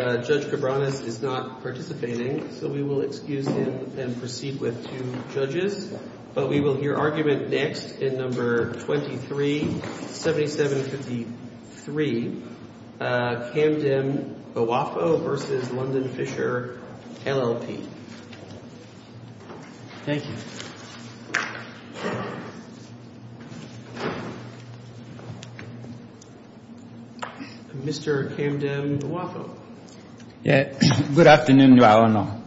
Judge Cabranes is not participating, so we will excuse him and proceed with two judges, but we will hear argument next in No. 23-7753, Kamdem-Ouaffo v. London Fisher, L.L.P. Thank you. Mr. Kamdem-Ouaffo. Good afternoon, Your Honor.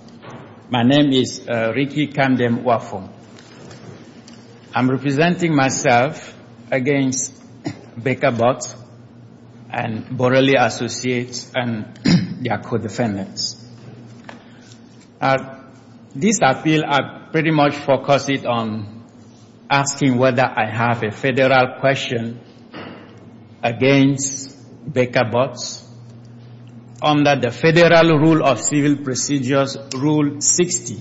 My name is Ricky Kamdem-Ouaffo. I'm representing myself against Baker Botts and Borrelli Associates and their co-defendants. This appeal, I pretty much focus it on asking whether I have a federal question against Baker Botts under the Federal Rule of Civil Procedures, Rule 60,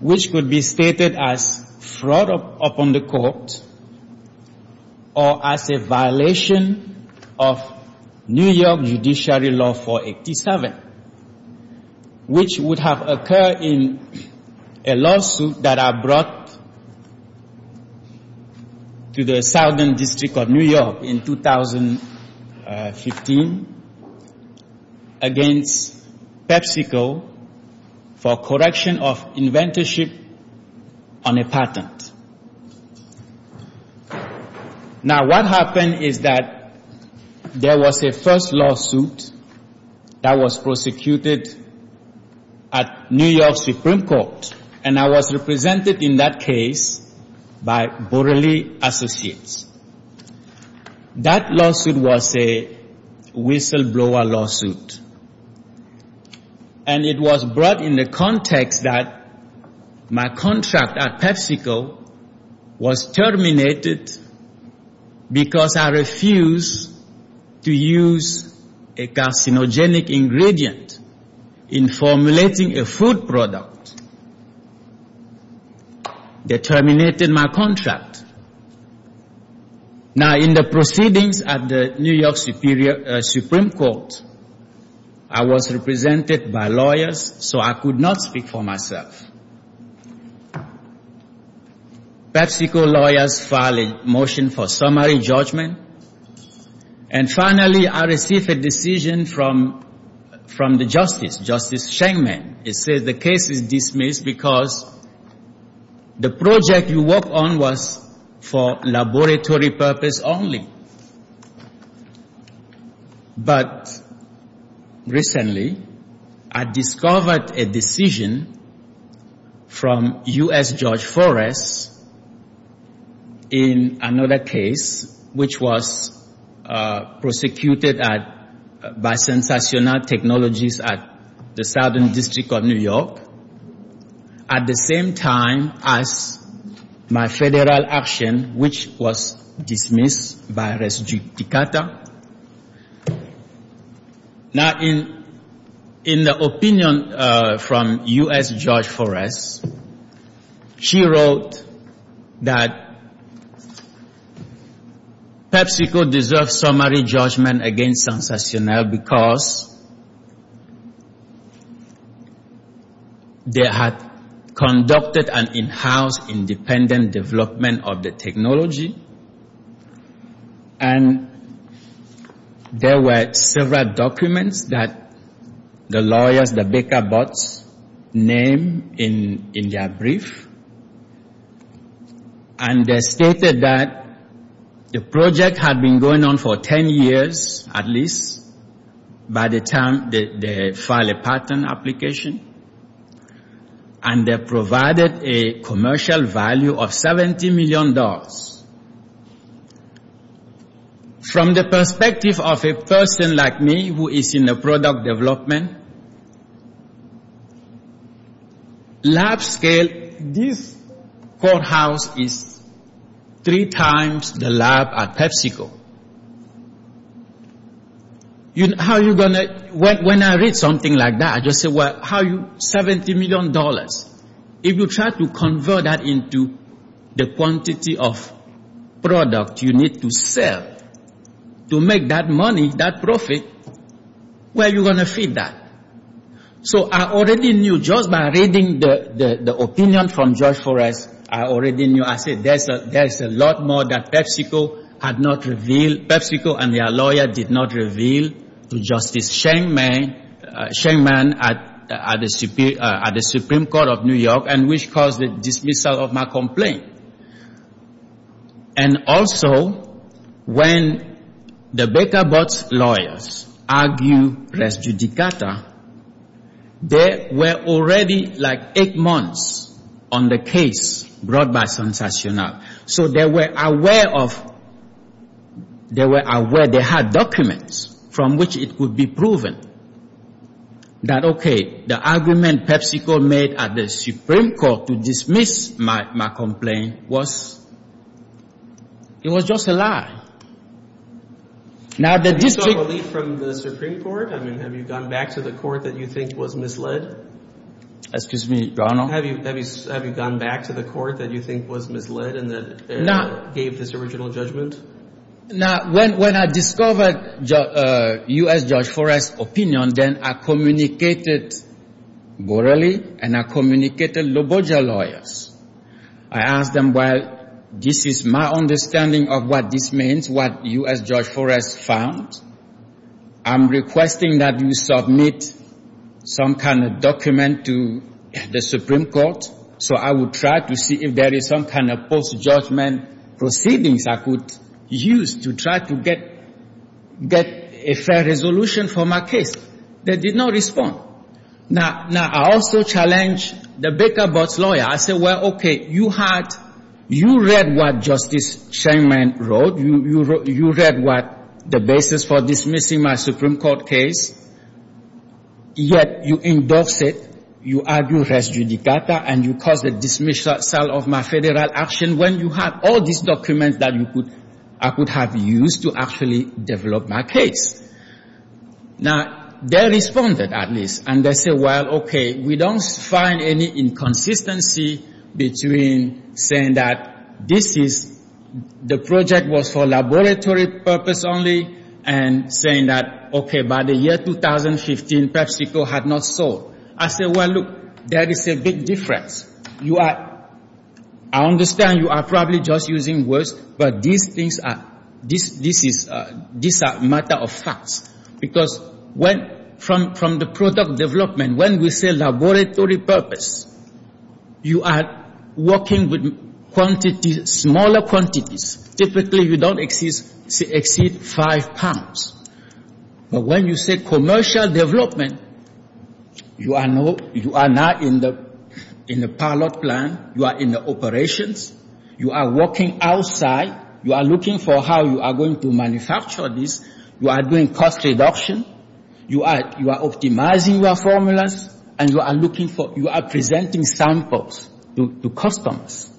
which could be stated as fraud upon the court or as a violation of New York Judiciary Law 487, which would have occurred in a lawsuit that I brought to the Southern District of New York in 2015 against PepsiCo for correction of inventorship on a patent. Now, what happened is that there was a first lawsuit that was prosecuted at New York Supreme Court, and I was represented in that case by Borrelli Associates. That lawsuit was a whistleblower lawsuit, and it was brought in the context that my contract at PepsiCo was terminated because I refused to use a carcinogenic ingredient in formulating a food product. They terminated my contract. Now, in the proceedings at the New York Supreme Court, I was represented by lawyers, so I could not speak for myself. PepsiCo lawyers filed a motion for summary judgment, and finally, I received a decision from the justice, Justice Schengman. It says the case is dismissed because the project you work on was for laboratory purpose only. But recently, I discovered a decision from U.S. Judge Forrest in another case, which was prosecuted by Sensational Technologies at the Southern District of New York, at the same time as my federal action, which was dismissed by Res Dictata. Now, in the opinion from U.S. Judge Forrest, she wrote that PepsiCo deserves summary judgment against Sensational because they had conducted an in-house independent development of the technology, and there were several documents that the lawyers, the baker bots, named in their brief, and they stated that the project had been going on for 10 years, at least, by the time they filed a patent application, and they provided a commercial value of $70 million. From the perspective of a person like me, who is in the product development, lab scale, this courthouse is three times the lab at PepsiCo. When I read something like that, I just say, well, $70 million, if you try to convert that into the quantity of product you need to sell to make that money, that profit, where are you going to feed that? So I already knew, just by reading the opinion from Judge Forrest, I already knew, I said, there's a lot more that PepsiCo had not revealed, PepsiCo and their lawyer did not reveal to Justice Schengman at the Supreme Court of New York, and which caused the dismissal of my complaint. And also, when the baker bots' lawyers argued res judicata, they were already like eight months on the case brought by Sensational, so they were aware they had documents from which it could be proven that, okay, the argument PepsiCo made at the Supreme Court to dismiss my complaint, was, it was just a lie. Now, the district... Have you sought relief from the Supreme Court? I mean, have you gone back to the court that you think was misled? Excuse me, Ronald? Have you gone back to the court that you think was misled and that gave this original judgment? Now, when I discovered U.S. Judge Forrest's opinion, then I communicated morally, and I communicated Loboja lawyers. I asked them, well, this is my understanding of what this means, what U.S. Judge Forrest found. I'm requesting that you submit some kind of document to the Supreme Court, so I will try to see if there is some kind of post-judgment proceedings I could use to try to get a fair resolution for my case. They did not respond. Now, I also challenged the Baker-Butts lawyer. I said, well, okay, you had, you read what Justice Scheinman wrote. You read what the basis for dismissing my Supreme Court case, yet you endorse it, you argue res judicata, and you cause the dismissal of my federal action when you have all these documents that you could, I could have used to actually develop my case. Now, they responded at least, and they said, well, okay, we don't find any inconsistency between saying that this is, the project was for laboratory purpose only and saying that, okay, by the year 2015, PepsiCo had not sold. I said, well, look, there is a big difference. You are, I understand you are probably just using words, but these things are, this is a matter of facts, because when, from the product development, when we say laboratory purpose, you are working with quantities, smaller quantities. Typically, you don't exceed five pounds. But when you say commercial development, you are not in the pilot plan. You are in the operations. You are working outside. You are looking for how you are going to manufacture this. You are doing cost reduction. You are optimizing your formulas, and you are looking for, you are presenting samples to customers.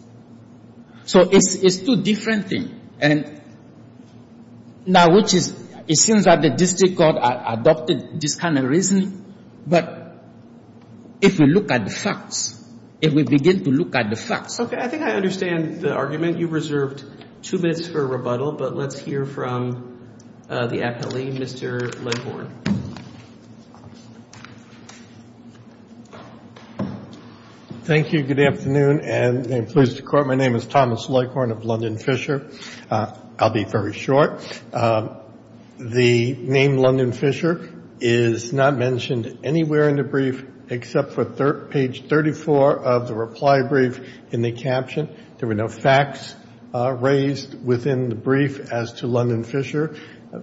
So it's two different things. And now, which is, it seems that the district court adopted this kind of reasoning, but if you look at the facts, if we begin to look at the facts. I think I understand the argument. You reserved two minutes for rebuttal, but let's hear from the appellee, Mr. Leghorn. Thank you. Good afternoon, and please, the court, my name is Thomas Leghorn of London Fisher. I'll be very short. The name London Fisher is not mentioned anywhere in the brief except for page 34 of the reply brief in the caption. There were no facts raised within the brief as to London Fisher.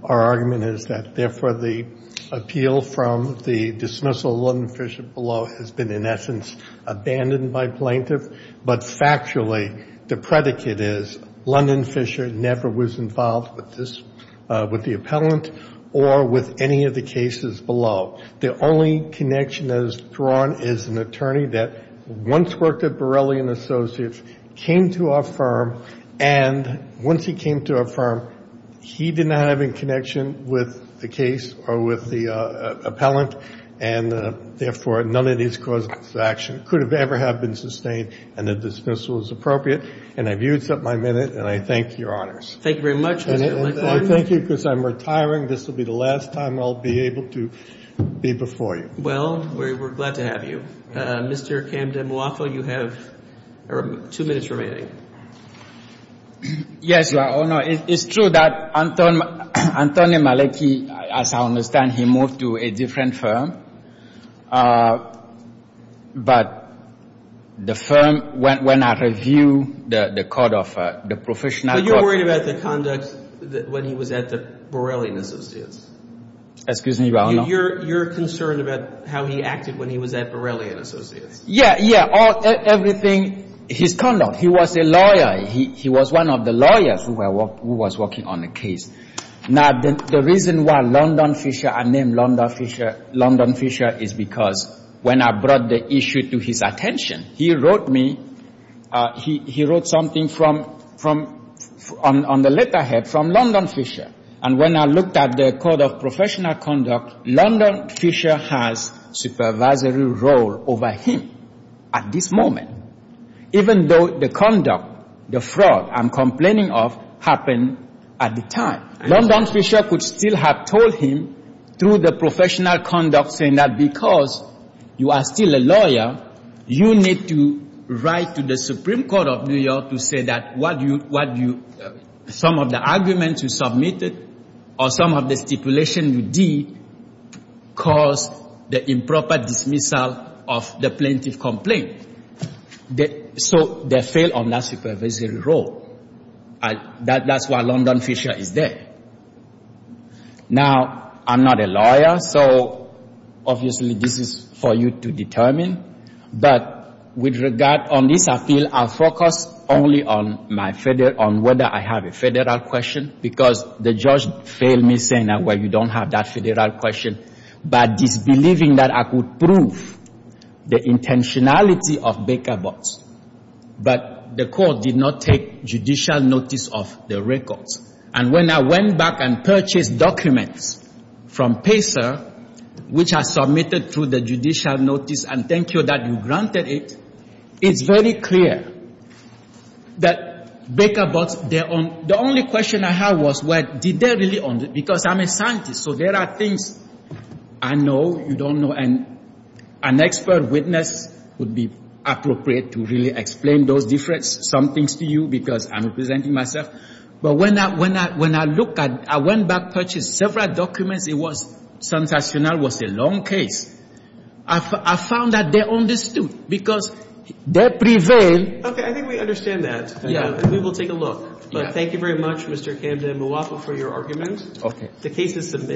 Our argument is that, therefore, the appeal from the dismissal of London Fisher below has been, in essence, abandoned by plaintiff. But, factually, the predicate is London Fisher never was involved with the appellant or with any of the cases below. The only connection that is drawn is an attorney that once worked at Borelli & Associates, came to our firm, and once he came to our firm, he did not have any connection with the case or with the appellant, and, therefore, none of these causes of action could have ever have been sustained, and the dismissal is appropriate. And I've used up my minute, and I thank Your Honors. Thank you very much, Mr. Leghorn. And I thank you because I'm retiring. This will be the last time I'll be able to be before you. Well, we're glad to have you. Mr. Camdemuato, you have two minutes remaining. Yes, Your Honor. It's true that Antonio Maleki, as I understand, he moved to a different firm. But the firm, when I review the court of the professional court. But you're worried about the conduct when he was at the Borelli & Associates. Excuse me, Your Honor. You're concerned about how he acted when he was at Borelli & Associates. Yeah, yeah, everything, his conduct. He was a lawyer. He was one of the lawyers who was working on the case. Now, the reason why London Fisher, I named London Fisher, is because when I brought the issue to his attention, he wrote me, he wrote something from, on the letterhead, from London Fisher. And when I looked at the court of professional conduct, London Fisher has supervisory role over him at this moment. Even though the conduct, the fraud I'm complaining of happened at the time. London Fisher could still have told him through the professional conduct saying that because you are still a lawyer, you need to write to the Supreme Court of New York to say that some of the arguments you submitted or some of the stipulation you did caused the improper dismissal of the plaintiff complaint. So they failed on that supervisory role. That's why London Fisher is there. Now, I'm not a lawyer, so obviously this is for you to determine. But with regard on this, I feel I'll focus only on whether I have a federal question because the judge failed me saying, well, you don't have that federal question. But disbelieving that I could prove the intentionality of Baker Botts. But the court did not take judicial notice of the records. And when I went back and purchased documents from PACER, which I submitted through the judicial notice, and thank you that you granted it, it's very clear that Baker Botts, the only question I had was, well, did they really own it? Because I'm a scientist, so there are things I know you don't know. And an expert witness would be appropriate to really explain those different some things to you because I'm representing myself. But when I look at it, I went back and purchased several documents. It was sensational. It was a long case. I found that they understood because they prevailed. Okay. I think we understand that. Yeah. And we will take a look. But thank you very much, Mr. Camden Mwapa, for your argument. Okay. The case is submitted.